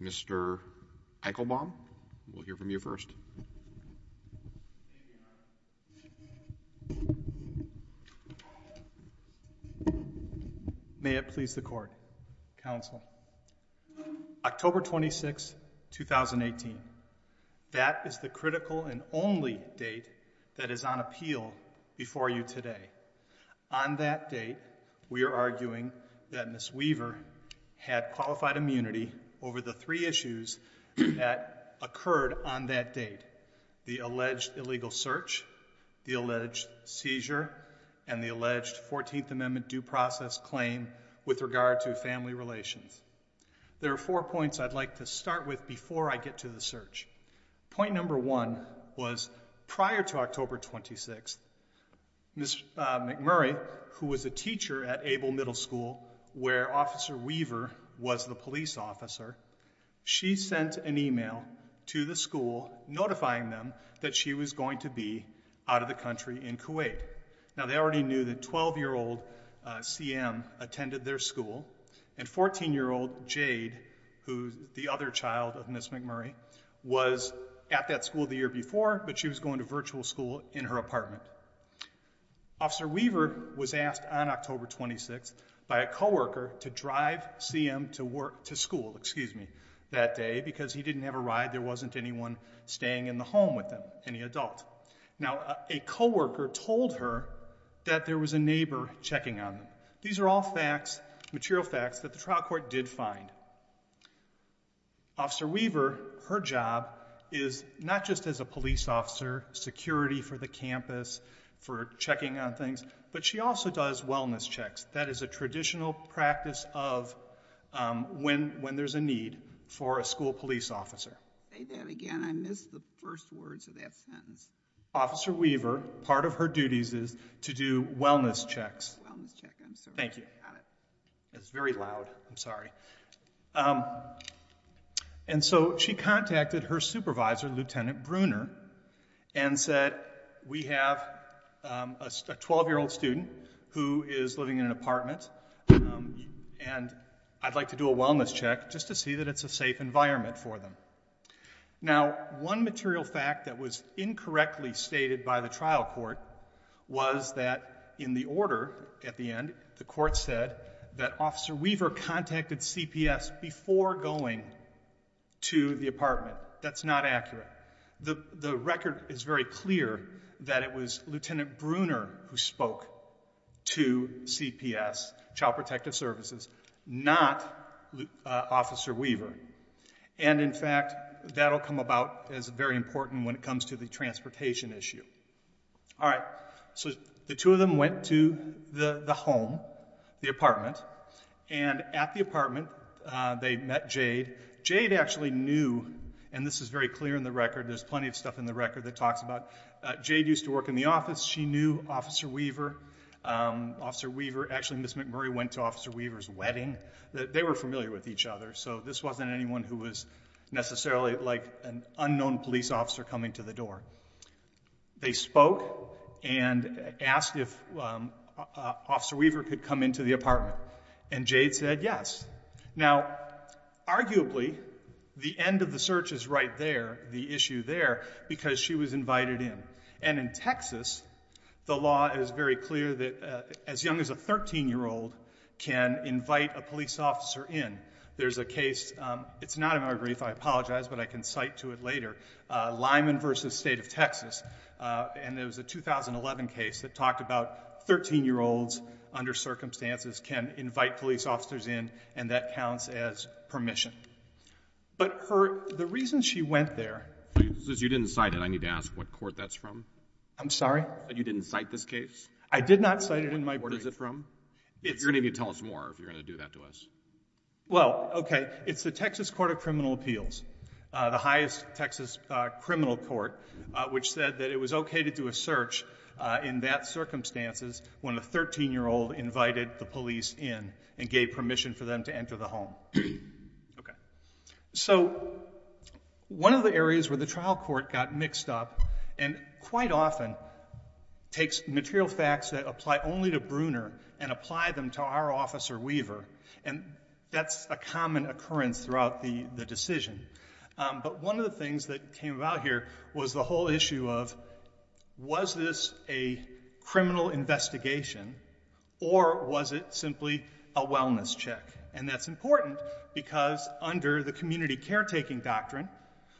Mr. Eichelbaum, we'll hear from you first. May it please the court, counsel. October 26, 2018, that is the critical and only date that is on appeal before you today. On that date, we are arguing that Ms. McMurray was a teacher at Abel Middle School, where Officer Weaver was the police officer for the community over the three issues that occurred on that date, the alleged illegal search, the alleged seizure, and the alleged 14th Amendment due process claim with regard to family relations. There are four points I'd like to start with before I get to the police officer. She sent an email to the school notifying them that she was going to be out of the country in Kuwait. Now, they already knew that 12-year-old CM attended their school, and 14-year-old Jade, who's the other child of Ms. McMurray, was at that school the year before, but she was going to virtual school in her apartment. Officer school, excuse me, that day because he didn't have a ride, there wasn't anyone staying in the home with him, any adult. Now, a co-worker told her that there was a neighbor checking on them. These are all facts, material facts, that the trial court did find. Officer Weaver, her job is not just as a police officer, security for the campus, for checking on things, but she also does wellness checks. That is a traditional practice of when there's a need for a school police officer. Say that again. I missed the first words of that sentence. Officer Weaver, part of her duties is to do wellness checks. Wellness check. I'm sorry. Thank you. I got it. It's very loud. I'm sorry. And so she contacted her supervisor, Lieutenant Bruner, and said, we have a 12-year-old student who is living in an apartment, and I'd like to do a wellness check just to see that it's a safe environment for them. Now, one material fact that was incorrectly stated by the trial court was that in the order at the end, the court said that Officer Weaver contacted CPS before going to the apartment. That's not accurate. The record is very clear that it was Lieutenant Bruner who spoke to CPS, Child Protective Services, not Officer Weaver. And in fact, that will come about as very important when it comes to the transportation issue. All right. So the two of them went to the home, the apartment, and at the apartment, they met Jade. Jade actually knew, and this is very clear in the record, there's plenty of stuff in the record that talks about, Jade used to work in the office. She knew Officer Weaver. Actually, Ms. McMurray went to Officer Weaver's wedding. They were familiar with each other, so this wasn't anyone who was necessarily like an unknown police officer coming to the door. They spoke and asked if Officer Weaver could come into the apartment, and Jade said yes. Now, arguably, the end of the search is right there, the issue there, because she was invited in. And in Texas, the law is very clear that as young as a 13-year-old can invite a police officer in. There's a case, it's not in our brief, I apologize, but I can cite to it later, Lyman v. State of Texas, and it was a 2011 case that talked about 13-year-olds under circumstances can invite police officers in, and that counts as permission. But the reason she went there... Since you didn't cite it, I need to ask what court that's from. I'm sorry? You didn't cite this case? I did not cite it in my brief. What is it from? You're going to need to tell us more if you're going to do that to us. Well, okay, it's the Texas Court of Criminal Appeals, the highest Texas criminal court, which said that it was okay to do a search in that circumstances when a 13-year-old invited the police in and gave permission for them to enter the home. So one of the areas where the trial court got mixed up, and quite often takes material facts that apply only to Bruner and apply them to our officer, Weaver, and that's a common occurrence throughout the decision. But one of the things that came about here was the whole issue of was this a criminal investigation or was it simply a wellness check? And that's important because under the community caretaking doctrine,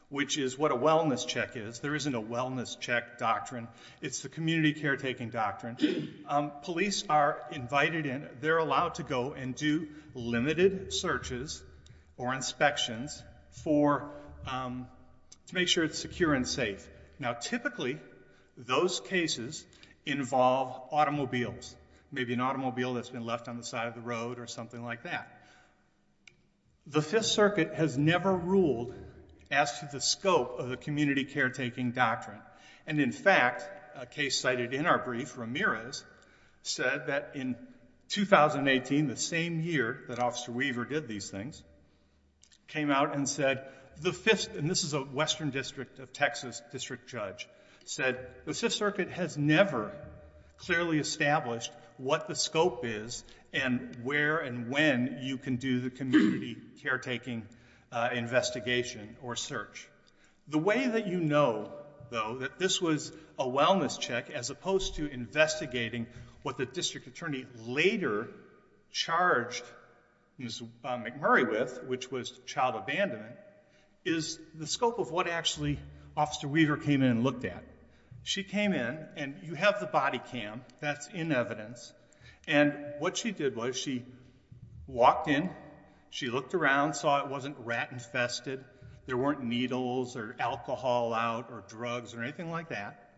which is what a wellness check is, there isn't a wellness check doctrine, it's the community caretaking doctrine, police are invited in, they're allowed to go and do limited searches or inspections to make sure it's secure and safe. Now typically those cases involve automobiles, maybe an automobile that's been left on the side of the road or something like that. The Fifth Circuit has never ruled as to the scope of the community caretaking doctrine. And in fact, a case cited in our brief, Ramirez, said that in 2018, the same year that Officer Weaver did these things, came out and said, and this is a Western District of Texas district judge, said, the Fifth Circuit has never clearly established what the scope is and where and when you can do the community caretaking investigation or search. The way that you know, though, that this was a wellness check as opposed to investigating what the district attorney later charged Ms. McMurray with, which was child abandonment, is the scope of what actually Officer Weaver came in and looked at. She came in, and you have the body cam, that's in evidence, and what she did was she walked in, she looked around, saw it wasn't rat infested, there weren't needles or alcohol out or drugs or anything like that.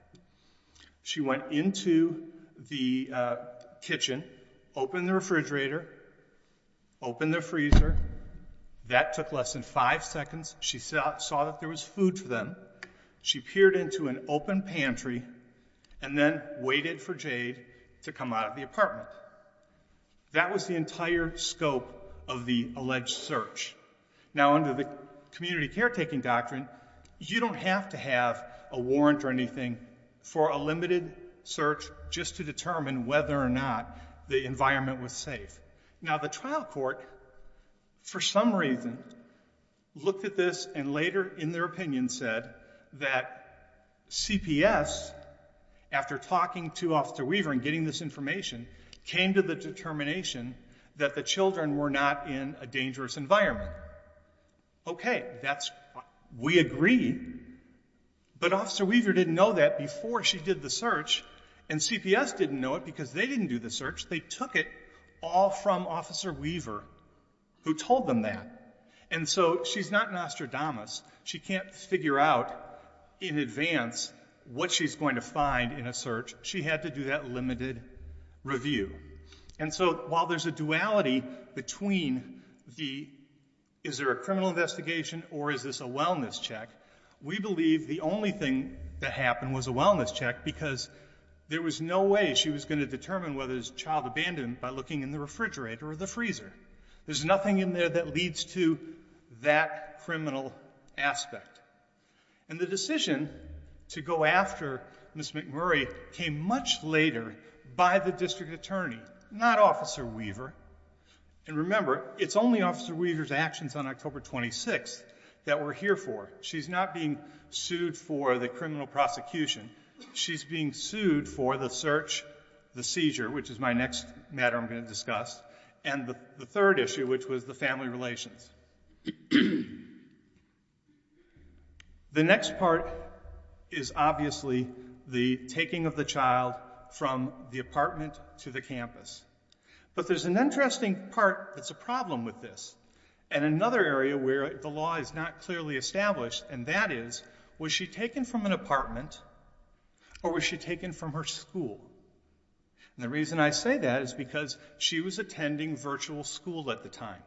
She went into the kitchen, opened the refrigerator, opened the freezer. That took less than five seconds. She saw that there was food for them. She peered into an open pantry and then waited for Jade to come out of the apartment. That was the entire scope of the alleged search. Now, under the community caretaking doctrine, you don't have to have a warrant or anything for a limited search just to determine whether or not the environment was safe. Now, the trial court, for some reason, looked at this and later in their opinion said that CPS, after talking to Officer Weaver and getting this information, came to the determination that the children were not in a dangerous environment. Okay, we agree, but Officer Weaver didn't know that before she did the search, and CPS didn't know it because they didn't do the search. They took it all from Officer Weaver, who told them that. And so she's not Nostradamus. She can't figure out in advance what she's going to find in a search. She had to do that limited review. And so while there's a duality between the is there a criminal investigation or is this a wellness check, we believe the only thing that happened was a wellness check because there was no way she was going to determine whether it was a child abandoned by looking in the refrigerator or the freezer. There's nothing in there that leads to that criminal aspect. And the decision to go after Ms. McMurray came much later by the district attorney, not Officer Weaver. And remember, it's only Officer Weaver's actions on October 26th that we're here for. She's not being sued for the criminal prosecution. She's being sued for the search, the seizure, which is my next matter I'm going to discuss, and the third issue, which was the family relations. The next part is obviously the taking of the child from the apartment to the campus. But there's an interesting part that's a problem with this and another area where the law is not clearly established, and that is was she taken from an apartment or was she taken from her school? And the reason I say that is because she was attending virtual school at the time,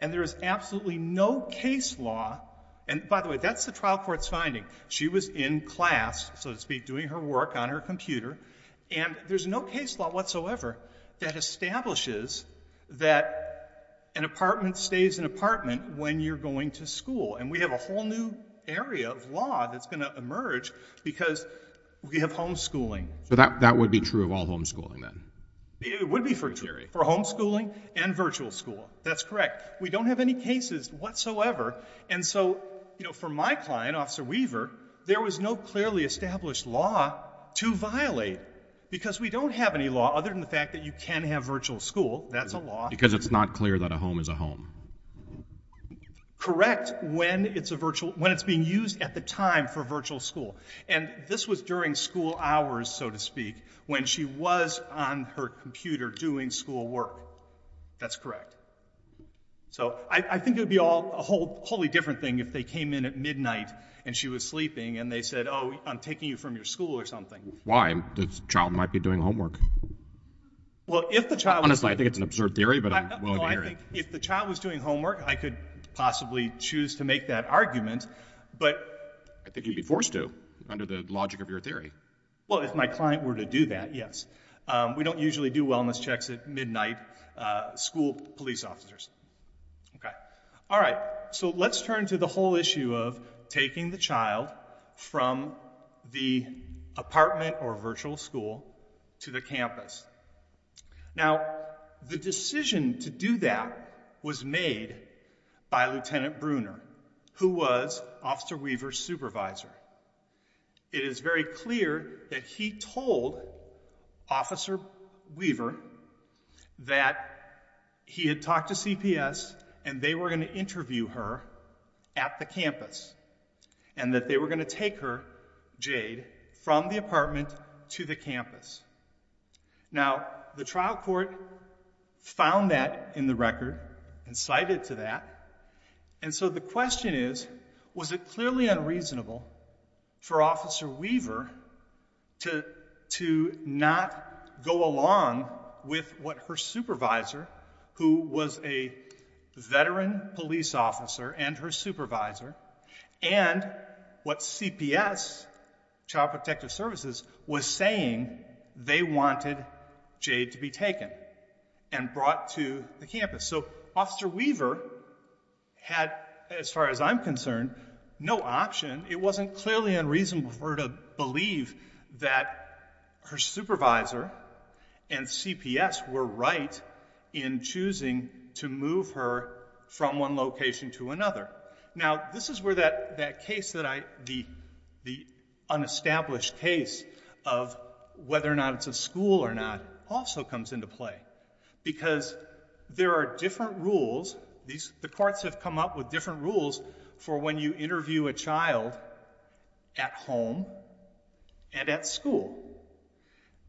and there is absolutely no case law. And by the way, that's the trial court's finding. She was in class, so to speak, doing her work on her computer, and there's no case law whatsoever that establishes that an apartment stays an apartment when you're going to school. And we have a whole new area of law that's going to emerge because we have homeschooling. So that would be true of all homeschooling then? It would be true for homeschooling and virtual school. That's correct. We don't have any cases whatsoever. And so for my client, Officer Weaver, there was no clearly established law to violate because we don't have any law other than the fact that you can have virtual school. That's a law. Because it's not clear that a home is a home. Correct when it's being used at the time for virtual school. And this was during school hours, so to speak, when she was on her computer doing schoolwork. That's correct. So I think it would be a wholly different thing if they came in at midnight and she was sleeping and they said, oh, I'm taking you from your school or something. Why? The child might be doing homework. Honestly, I think it's an absurd theory, but I'm willing to hear it. If the child was doing homework, I could possibly choose to make that argument, but I think you'd be forced to under the logic of your theory. Well, if my client were to do that, yes. We don't usually do wellness checks at midnight school police officers. All right. So let's turn to the whole issue of taking the child from the apartment or virtual school to the campus. Now, the decision to do that was made by Lieutenant Bruner, who was Officer Weaver's supervisor. It is very clear that he told Officer Weaver that he had talked to CPS and they were going to interview her at the campus and that they were going to take her, Jade, from the apartment to the campus. Now, the trial court found that in the record and cited to that. And so the question is, was it clearly unreasonable for Officer Weaver to not go along with what her supervisor, who was a veteran police officer and her supervisor, and what CPS, Child Protective Services, was saying they wanted Jade to be taken and brought to the campus? So Officer Weaver had, as far as I'm concerned, no option. It wasn't clearly unreasonable for her to believe that her supervisor and CPS were right in choosing to move her from one location to another. Now, this is where that case, the unestablished case of whether or not it's a school or not, also comes into play. Because there are different rules. The courts have come up with different rules for when you interview a child at home and at school.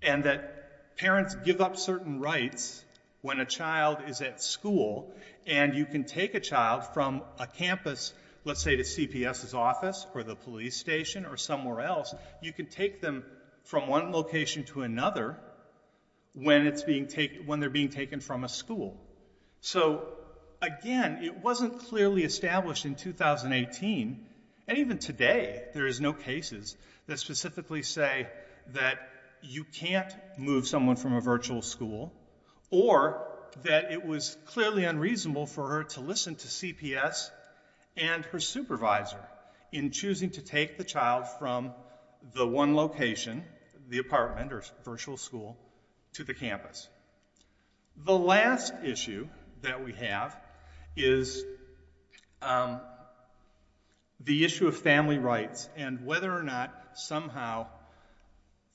And that parents give up certain rights when a child is at school and you can take a child from a campus, let's say to CPS's office or the police station or somewhere else, you can take them from one location to another when they're being taken from a school. So, again, it wasn't clearly established in 2018, and even today there is no cases that specifically say that you can't move someone from a virtual school or that it was clearly unreasonable for her to listen to CPS and her supervisor in choosing to take the child from the one location, the apartment or virtual school, to the campus. The last issue that we have is the issue of family rights and whether or not somehow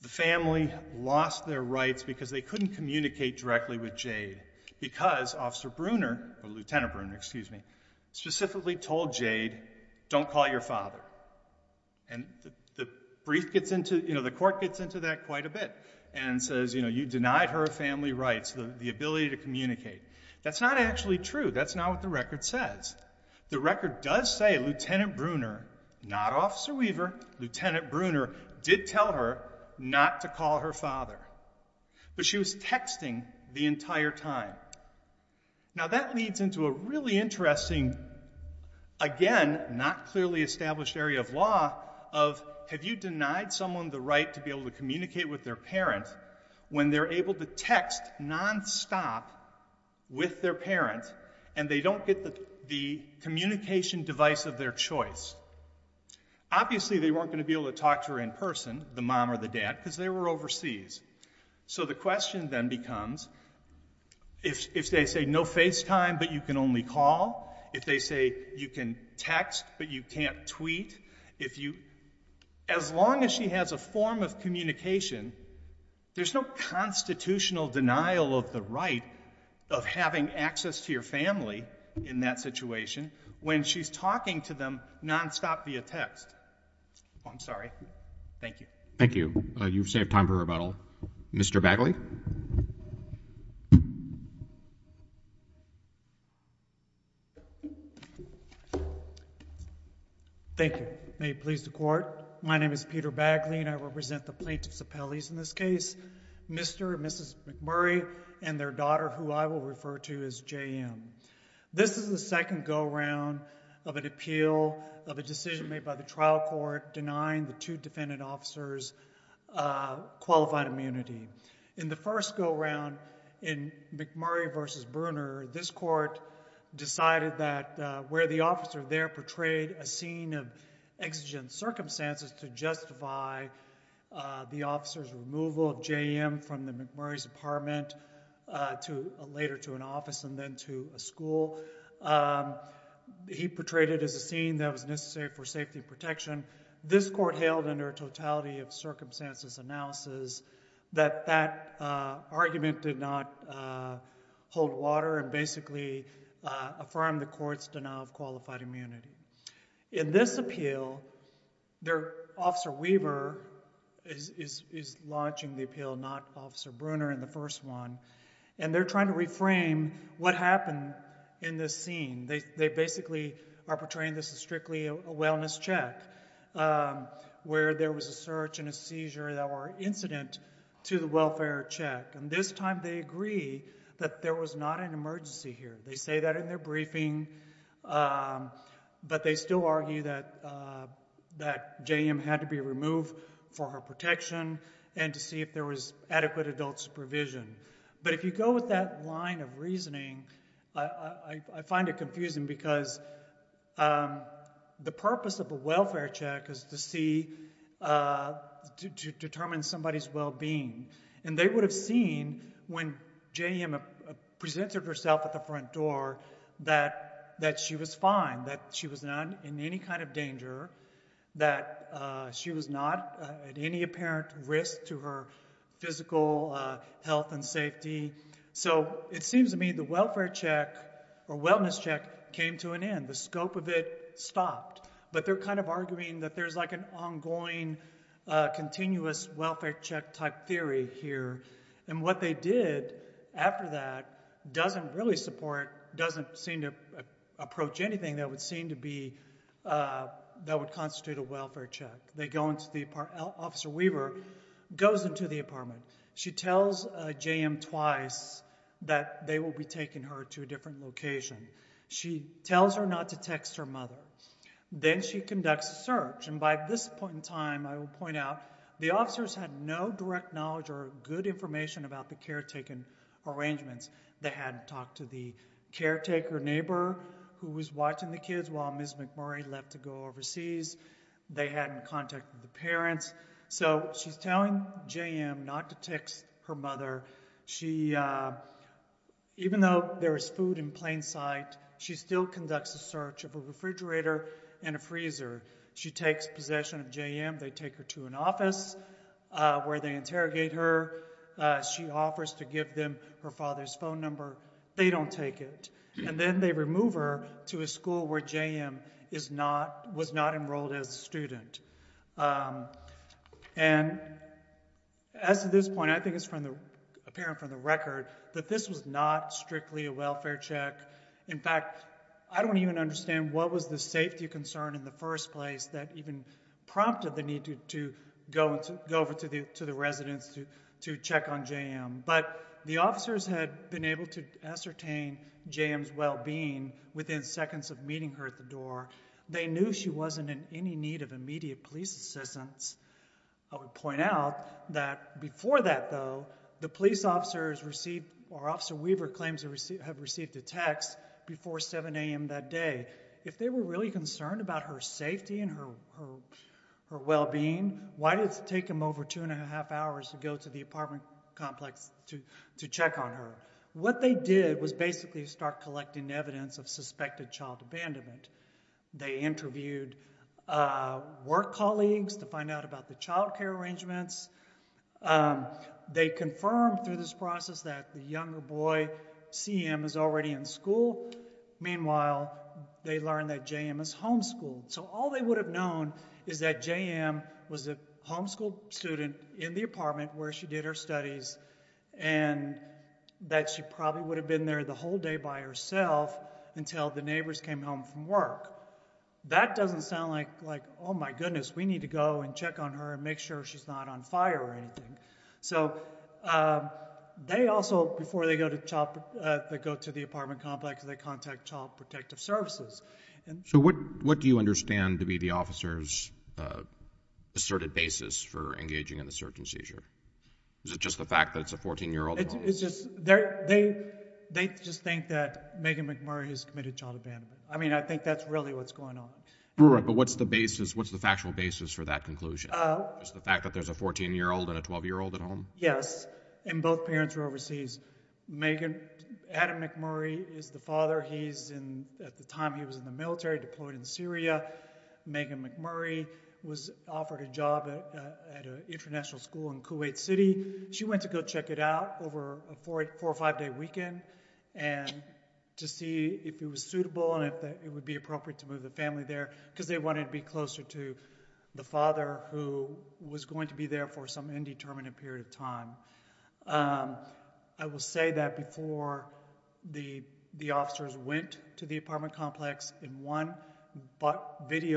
the family lost their rights because they couldn't communicate directly with Jade because Officer Bruner, or Lieutenant Bruner, excuse me, specifically told Jade, don't call your father. And the brief gets into, you know, the court gets into that quite a bit and says, you know, you denied her family rights, the ability to communicate. That's not actually true. That's not what the record says. The record does say Lieutenant Bruner, not Officer Weaver, Lieutenant Bruner did tell her not to call her father. But she was texting the entire time. Now, that leads into a really interesting, again, not clearly established area of law of have you denied someone the right to be able to communicate with their parent when they're able to text nonstop with their parent and they don't get the communication device of their choice? Obviously, they weren't going to be able to talk to her in person, the mom or the dad, because they were overseas. So the question then becomes, if they say no FaceTime but you can only call, if they say you can text but you can't tweet, if you, as long as she has a form of communication, there's no constitutional denial of the right of having access to your family in that situation when she's talking to them nonstop via text. I'm sorry. Thank you. Thank you. You've saved time for rebuttal. Mr. Bagley? Thank you. May it please the Court. My name is Peter Bagley and I represent the plaintiffs' appellees in this case, Mr. and Mrs. McMurray and their daughter, who I will refer to as JM. This is the second go-around of an appeal of a decision made by the trial court denying the two defendant officers qualified immunity. In the first go-around in McMurray v. Bruner, this court decided that where the officer there portrayed a scene of exigent circumstances to justify the officer's removal of JM from the McMurray's apartment later to an office and then to a school, he portrayed it as a scene that was necessary for safety protection. This court hailed under a totality of circumstances analysis that that argument did not hold water and basically affirmed the court's denial of qualified immunity. In this appeal, Officer Weaver is launching the appeal, not Officer Bruner in the first one, and they're trying to reframe what happened in this scene. They basically are portraying this as strictly a wellness check, where there was a search and a seizure that were incident to the welfare check. And this time they agree that there was not an emergency here. They say that in their briefing, but they still argue that JM had to be removed for her protection and to see if there was adequate adult supervision. But if you go with that line of reasoning, I find it confusing because the purpose of a welfare check is to determine somebody's well-being. And they would have seen when JM presented herself at the front door that she was fine, that she was not in any kind of danger, that she was not at any apparent risk to her physical health and safety. So it seems to me the welfare check or wellness check came to an end. The scope of it stopped. But they're kind of arguing that there's like an ongoing continuous welfare check type theory here. And what they did after that doesn't really support, doesn't seem to approach anything that would constitute a welfare check. Officer Weaver goes into the apartment. She tells JM twice that they will be taking her to a different location. She tells her not to text her mother. Then she conducts a search. And by this point in time, I will point out, the officers had no direct knowledge or good information about the caretaking arrangements. They hadn't talked to the caretaker neighbor who was watching the kids while Ms. McMurray left to go overseas. They hadn't contacted the parents. So she's telling JM not to text her mother. Even though there is food in plain sight, she still conducts a search of a refrigerator and a freezer. She takes possession of JM. They take her to an office where they interrogate her. She offers to give them her father's phone number. They don't take it. And then they remove her to a school where JM was not enrolled as a student. And as of this point, I think it's apparent from the record that this was not strictly a welfare check. In fact, I don't even understand what was the safety concern in the first place that even prompted the need to go over to the residence to check on JM. But the officers had been able to ascertain JM's well-being within seconds of meeting her at the door. They knew she wasn't in any need of immediate police assistance. I would point out that before that, though, the police officers received or Officer Weaver claims to have received a text before 7 a.m. that day. If they were really concerned about her safety and her well-being, why did it take them over two and a half hours to go to the apartment complex to check on her? What they did was basically start collecting evidence of suspected child abandonment. They interviewed work colleagues to find out about the child care arrangements. They confirmed through this process that the younger boy, CM, is already in school. Meanwhile, they learned that JM is homeschooled. So all they would have known is that JM was a homeschooled student in the apartment where she did her studies and that she probably would have been there the whole day by herself until the neighbors came home from work. That doesn't sound like, oh, my goodness, we need to go and check on her and make sure she's not on fire or anything. So they also, before they go to the apartment complex, they contact Child Protective Services. So what do you understand to be the officer's asserted basis for engaging in the search and seizure? Is it just the fact that it's a 14-year-old at home? They just think that Megan McMurray has committed child abandonment. I mean, I think that's really what's going on. But what's the factual basis for that conclusion? Is it the fact that there's a 14-year-old and a 12-year-old at home? Yes, and both parents are overseas. Adam McMurray is the father. At the time he was in the military, deployed in Syria. Megan McMurray was offered a job at an international school in Kuwait City. She went to go check it out over a four- or five-day weekend to see if it was suitable and if it would be appropriate to move the family there because they wanted to be closer to the father who was going to be there for some indeterminate period of time. I will say that before the officers went to the apartment complex, in one body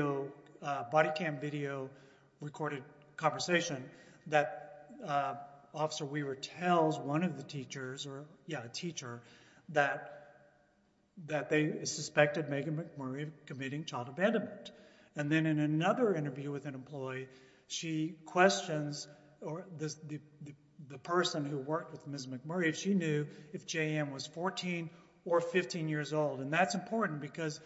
cam video recorded conversation, that Officer Weaver tells one of the teachers that they suspected Megan McMurray committing child abandonment. And then in another interview with an employee, she questions the person who worked with Ms. McMurray if she knew if JM was 14 or 15 years old. And that's important because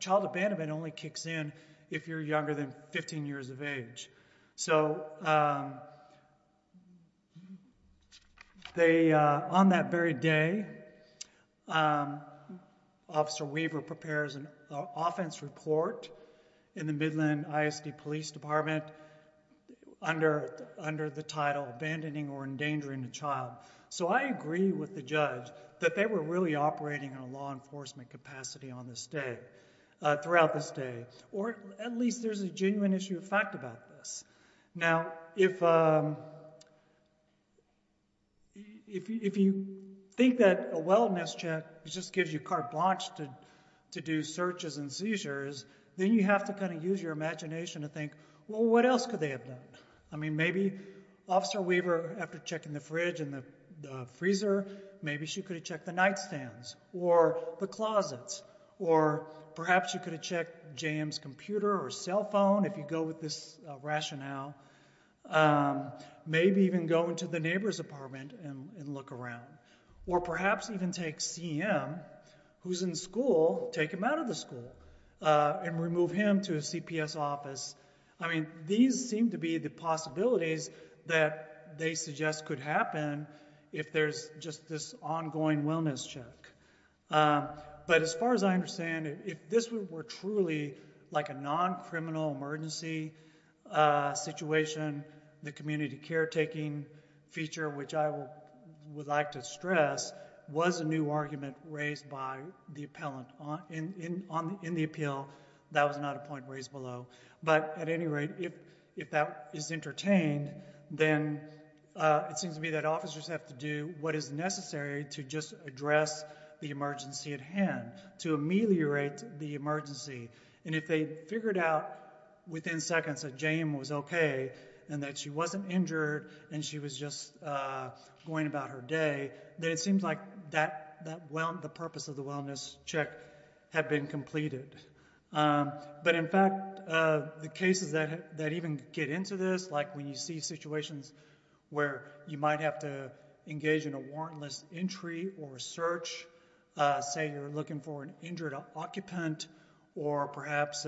child abandonment only kicks in if you're younger than 15 years of age. So on that very day, Officer Weaver prepares an offense report in the Midland ISD Police Department under the title, Abandoning or Endangering a Child. So I agree with the judge that they were really operating in a law enforcement capacity throughout this day. Or at least there's a genuine issue of fact about this. Now, if you think that a wellness check just gives you carte blanche to do searches and seizures, then you have to kind of use your imagination to think, well, what else could they have done? I mean, maybe Officer Weaver, after checking the fridge and the freezer, maybe she could have checked the nightstands or the closets. Or perhaps she could have checked JM's computer or cell phone, if you go with this rationale. Maybe even go into the neighbor's apartment and look around. Or perhaps even take CM, who's in school, take him out of the school and remove him to a CPS office. I mean, these seem to be the possibilities that they suggest could happen if there's just this ongoing wellness check. But as far as I understand it, if this were truly like a non-criminal emergency situation, the community caretaking feature, which I would like to stress, was a new argument raised by the appellant in the appeal. That was not a point raised below. But at any rate, if that is entertained, then it seems to me that officers have to do what is necessary to just address the emergency at hand, to ameliorate the emergency. And if they figured out within seconds that JM was OK and that she wasn't injured and she was just going about her day, then it seems like the purpose of the wellness check had been completed. But in fact, the cases that even get into this, like when you see situations where you might have to engage in a warrantless entry or search, say you're looking for an injured occupant or perhaps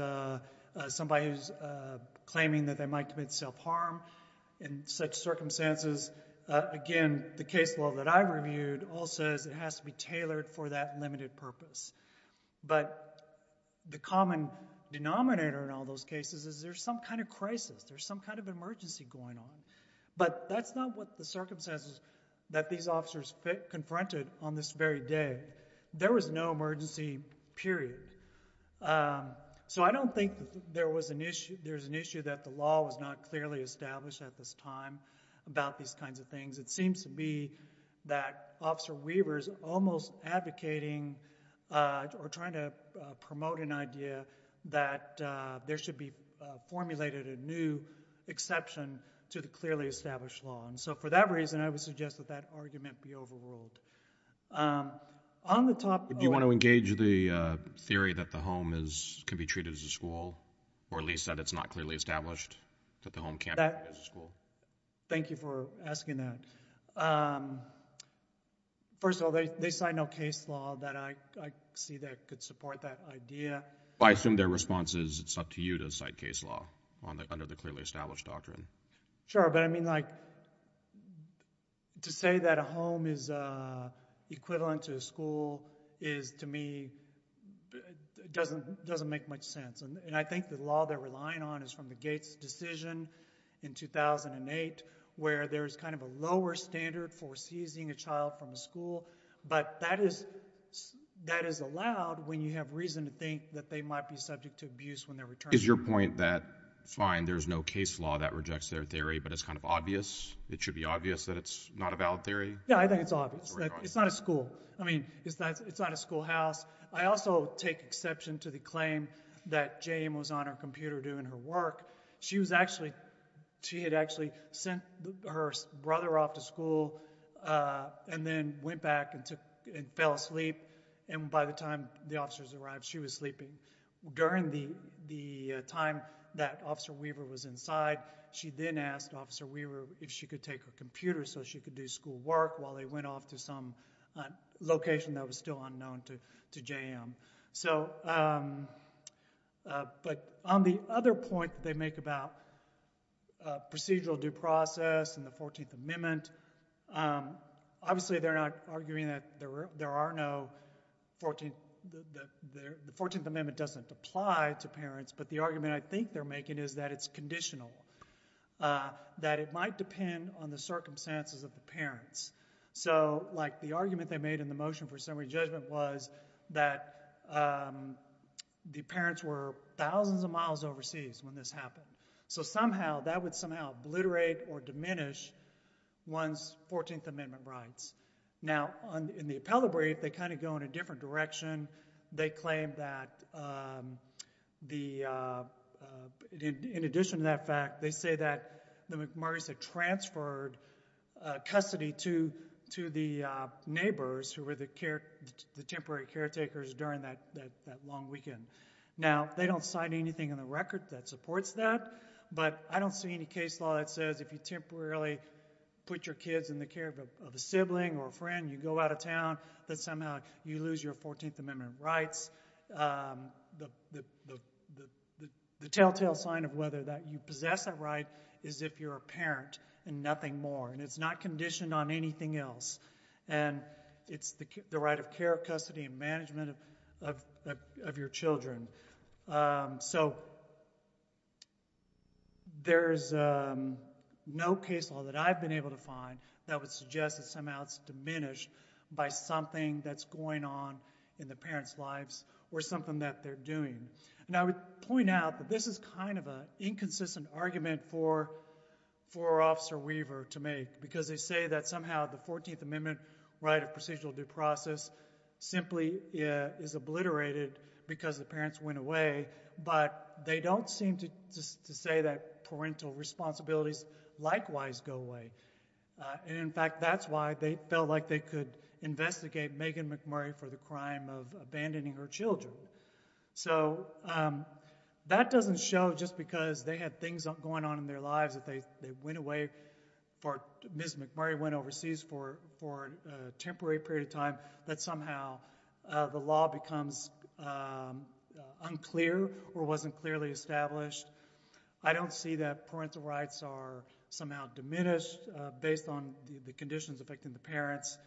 somebody who's claiming that they might commit self-harm in such circumstances, again, the case law that I reviewed all says it has to be tailored for that limited purpose. But the common denominator in all those cases is there's some kind of crisis, there's some kind of emergency going on. But that's not what the circumstances that these officers confronted on this very day. There was no emergency, period. So I don't think there was an issue that the law was not clearly established at this time about these kinds of things. It seems to me that Officer Weber is almost advocating or trying to promote an idea that there should be formulated a new exception to the clearly established law. And so for that reason, I would suggest that that argument be overruled. Do you want to engage the theory that the home can be treated as a school or at least that it's not clearly established, that the home can't be treated as a school? Thank you for asking that. First of all, they cite no case law that I see that could support that idea. I assume their response is it's up to you to cite case law under the clearly established doctrine. Sure, but I mean like to say that a home is equivalent to a school is to me doesn't make much sense. And I think the law they're relying on is from the Gates decision in 2008 where there's kind of a lower standard for seizing a child from a school. But that is allowed when you have reason to think that they might be subject to abuse when they're returning. Is your point that fine, there's no case law that rejects their theory, but it's kind of obvious, it should be obvious that it's not a valid theory? Yeah, I think it's obvious. It's not a school. I mean, it's not a schoolhouse. I also take exception to the claim that Jane was on her computer doing her work. She had actually sent her brother off to school and then went back and fell asleep. And by the time the officers arrived, she was sleeping. During the time that Officer Weaver was inside, she then asked Officer Weaver if she could take her computer so she could do schoolwork while they went off to some location that was still unknown to JM. But on the other point they make about procedural due process and the 14th Amendment, obviously they're not arguing that the 14th Amendment doesn't apply to parents, but the argument I think they're making is that it's conditional, that it might depend on the circumstances of the parents. So the argument they made in the motion for summary judgment was that the parents were thousands of miles overseas when this happened. So that would somehow obliterate or diminish one's 14th Amendment rights. Now, in the appellate brief, they kind of go in a different direction. They claim that in addition to that fact, they say that the McMurray's had transferred custody to the neighbors who were the temporary caretakers during that long weekend. Now, they don't sign anything in the record that supports that, but I don't see any case law that says if you temporarily put your kids in the care of a sibling or a friend, you go out of town, that somehow you lose your 14th Amendment rights. The telltale sign of whether that you possess that right is if you're a parent and nothing more, and it's not conditioned on anything else. And it's the right of care, custody, and management of your children. So there's no case law that I've been able to find that would suggest that somehow it's diminished by something that's going on in the parents' lives or something that they're doing. Now, I would point out that this is kind of an inconsistent argument for Officer Weaver to make because they say that somehow the 14th Amendment right of procedural due process simply is obliterated because the parents went away, but they don't seem to say that parental responsibilities likewise go away. And in fact, that's why they felt like they could investigate Megan McMurray for the crime of abandoning her children. So that doesn't show just because they had things going on in their lives that they went away for Ms. McMurray went overseas for a temporary period of time that somehow the law becomes unclear or wasn't clearly established. I don't see that parental rights are somehow diminished based on the conditions affecting the parents.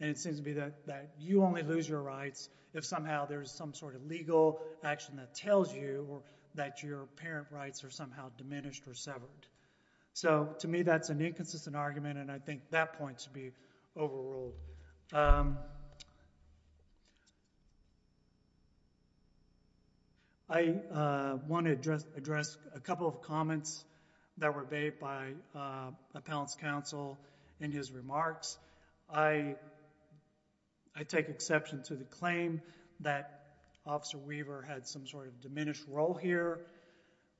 And it seems to be that you only lose your rights if somehow there's some sort of legal action that tells you that your parent rights are somehow diminished or severed. So to me, that's an inconsistent argument, and I think that point should be overruled. I want to address a couple of comments that were made by Appellant's counsel in his remarks. I take exception to the claim that Officer Weaver had some sort of diminished role here.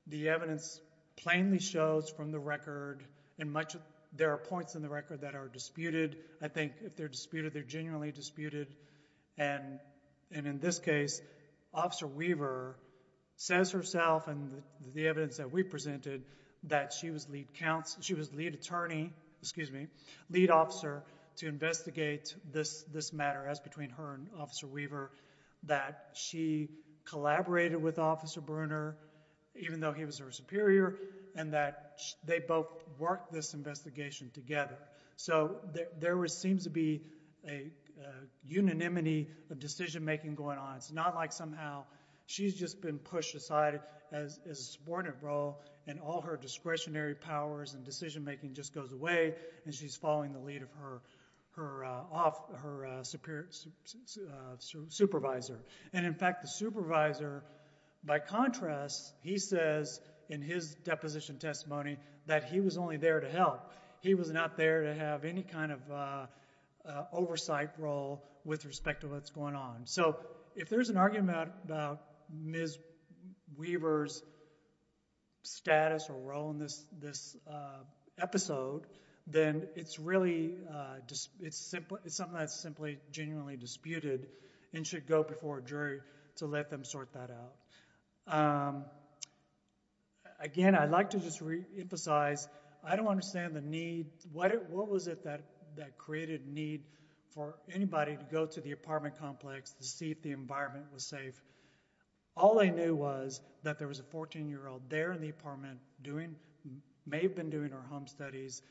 The evidence plainly shows from the record and there are points in the record that are disputed. I think if they're disputed, they're genuinely disputed. And in this case, Officer Weaver says herself and the evidence that we presented that she was lead attorney, excuse me, lead officer to investigate this matter, as between her and Officer Weaver, that she collaborated with Officer Bruner, even though he was her superior, and that they both worked this investigation together. So there seems to be a unanimity of decision-making going on. It's not like somehow she's just been pushed aside as a subordinate role and all her discretionary powers and decision-making just goes away and she's following the lead of her supervisor. And in fact, the supervisor, by contrast, he says in his deposition testimony that he was only there to help. He was not there to have any kind of oversight role with respect to what's going on. So if there's an argument about Ms. Weaver's status or role in this episode, then it's something that's simply genuinely disputed and should go before a jury to let them sort that out. Again, I'd like to just reemphasize, I don't understand the need. What was it that created need for anybody to go to the apartment complex to see if the environment was safe? All they knew was that there was a 14-year-old there in the apartment who may have been doing her home studies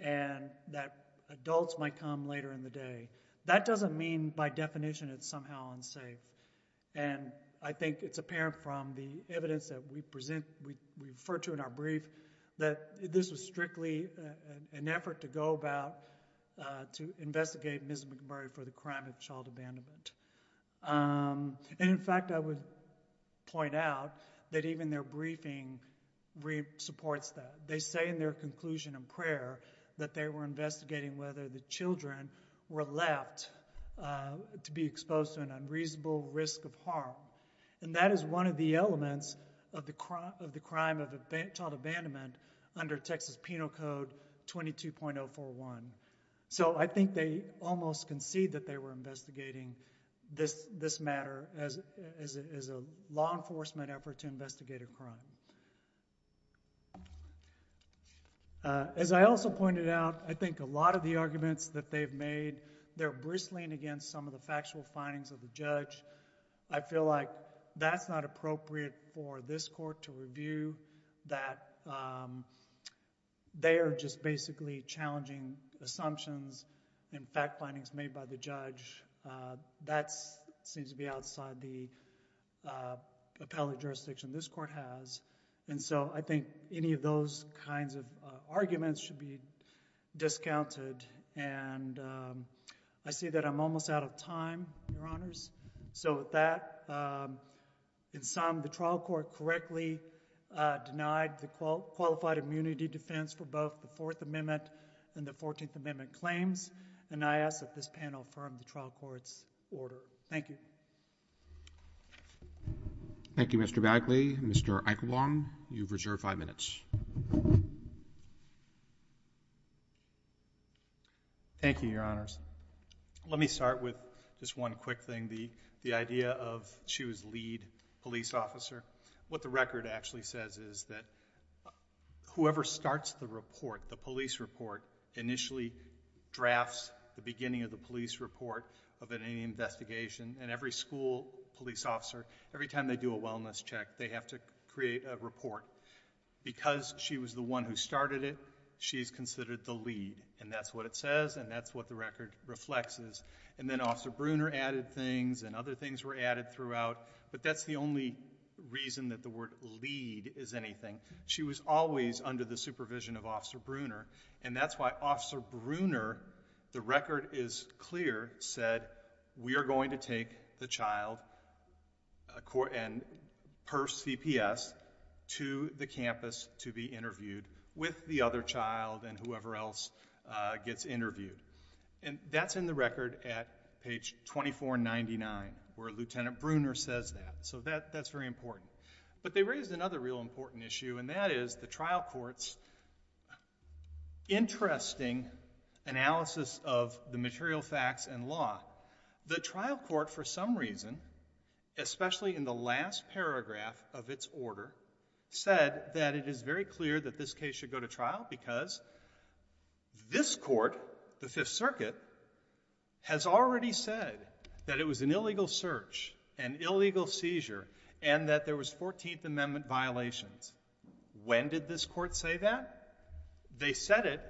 and that adults might come later in the day. That doesn't mean by definition it's somehow unsafe. And I think it's apparent from the evidence that we refer to in our brief that this was strictly an effort to go about to investigate Ms. McMurray for the crime of child abandonment. And in fact, I would point out that even their briefing supports that. They say in their conclusion in prayer that they were investigating whether the children were left to be exposed to an unreasonable risk of harm. And that is one of the elements of the crime of child abandonment under Texas Penal Code 22.041. So I think they almost concede that they were investigating this matter as a law enforcement effort to investigate a crime. As I also pointed out, I think a lot of the arguments that they've made, they're bristling against some of the factual findings of the judge. I feel like that's not appropriate for this court to review, that they are just basically challenging assumptions and fact findings made by the judge. That seems to be outside the appellate jurisdiction this court has. And so I think any of those kinds of arguments should be discounted. And I see that I'm almost out of time, Your Honors. So with that, in sum, the trial court correctly denied the qualified immunity defense for both the Fourth Amendment and the Fourteenth Amendment claims. And I ask that this panel affirm the trial court's order. Thank you. Thank you, Mr. Bagley. Mr. Eichelwong, you've reserved five minutes. Thank you, Your Honors. Let me start with just one quick thing, the idea of she was lead police officer. What the record actually says is that whoever starts the report, the police report, initially drafts the beginning of the police report of any investigation. And every school police officer, every time they do a wellness check, they have to create a report. Because she was the one who started it, she's considered the lead, and that's what it says, and that's what the record reflects. And then Officer Bruner added things, and other things were added throughout. But that's the only reason that the word lead is anything. She was always under the supervision of Officer Bruner, and that's why Officer Bruner, the record is clear, said we are going to take the child per CPS to the campus to be interviewed with the other child than whoever else gets interviewed. And that's in the record at page 2499, where Lieutenant Bruner says that. So that's very important. But they raised another real important issue, and that is the trial court's interesting analysis of the material facts and law. The trial court, for some reason, especially in the last paragraph of its order, said that it is very clear that this case should go to trial because this court, the Fifth Circuit, has already said that it was an illegal search, an illegal seizure, and that there was 14th Amendment violations. When did this court say that? They said it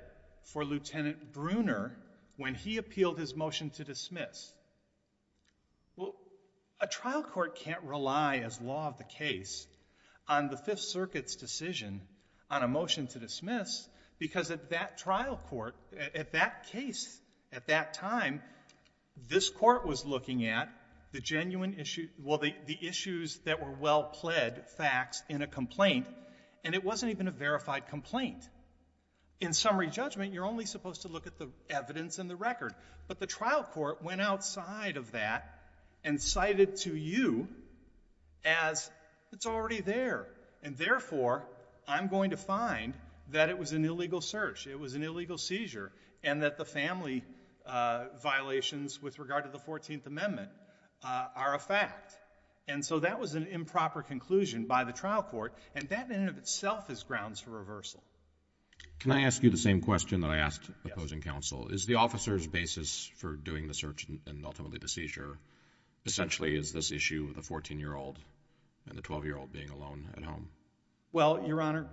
for Lieutenant Bruner when he appealed his motion to dismiss. Well, a trial court can't rely, as law of the case, on the Fifth Circuit's decision on a motion to dismiss because at that trial court, at that case, at that time, this court was looking at the genuine issue, well, the issues that were well-pled facts in a complaint, and it wasn't even a verified complaint. In summary judgment, you're only supposed to look at the evidence in the record. But the trial court went outside of that and cited to you as it's already there, and therefore I'm going to find that it was an illegal search, it was an illegal seizure, and that the family violations with regard to the 14th Amendment are a fact. And so that was an improper conclusion by the trial court, and that in and of itself is grounds for reversal. Can I ask you the same question that I asked the opposing counsel? Is the officer's basis for doing the search and ultimately the seizure essentially is this issue of the 14-year-old and the 12-year-old being alone at home? Well, Your Honor,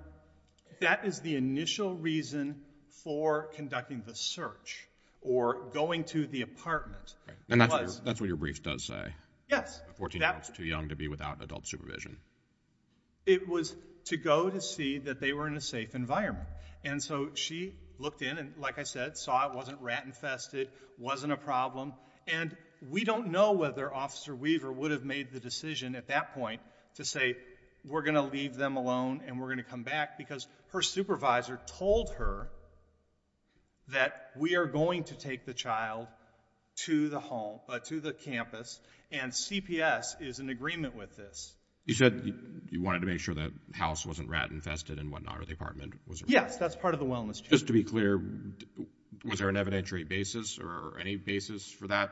that is the initial reason for conducting the search or going to the apartment. And that's what your brief does say. Yes. A 14-year-old is too young to be without adult supervision. It was to go to see that they were in a safe environment. And so she looked in and, like I said, saw it wasn't rat-infested, wasn't a problem, and we don't know whether Officer Weaver would have made the decision at that point to say we're going to leave them alone and we're going to come back because her supervisor told her that we are going to take the child to the campus, and CPS is in agreement with this. You said you wanted to make sure the house wasn't rat-infested and whatnot for the apartment. Yes, that's part of the wellness check. Just to be clear, was there an evidentiary basis or any basis for that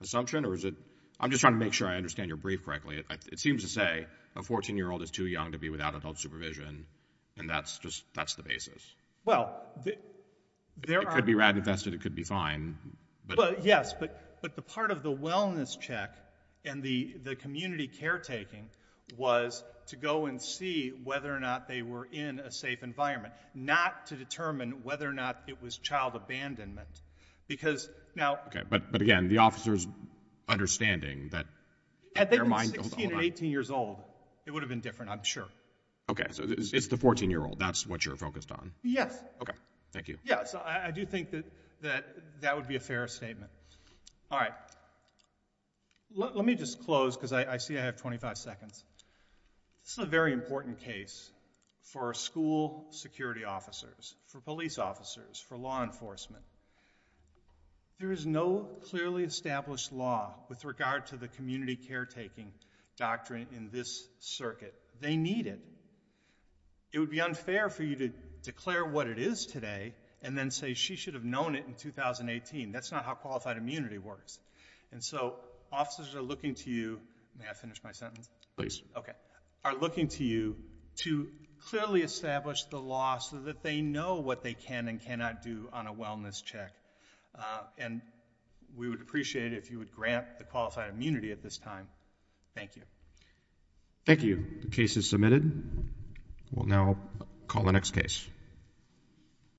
assumption? I'm just trying to make sure I understand your brief correctly. It seems to say a 14-year-old is too young to be without adult supervision, and that's the basis. Well, there are... It could be rat-infested, it could be fine. Yes, but the part of the wellness check and the community caretaking was to go and see whether or not they were in a safe environment, not to determine whether or not it was child abandonment because now... Okay, but again, the officer's understanding that... At 16 or 18 years old, it would have been different, I'm sure. Okay, so it's the 14-year-old. That's what you're focused on? Yes. Okay, thank you. Yes, I do think that that would be a fair statement. All right. Let me just close because I see I have 25 seconds. This is a very important case for school security officers, for police officers, for law enforcement. There is no clearly established law with regard to the community caretaking doctrine in this circuit. They need it. It would be unfair for you to declare what it is today and then say she should have known it in 2018. That's not how qualified immunity works. And so officers are looking to you... May I finish my sentence? Please. Okay, are looking to you to clearly establish the law so that they know what they can and cannot do on a wellness check. And we would appreciate it if you would grant the qualified immunity at this time. Thank you. Thank you. The case is submitted. We'll now call the next case.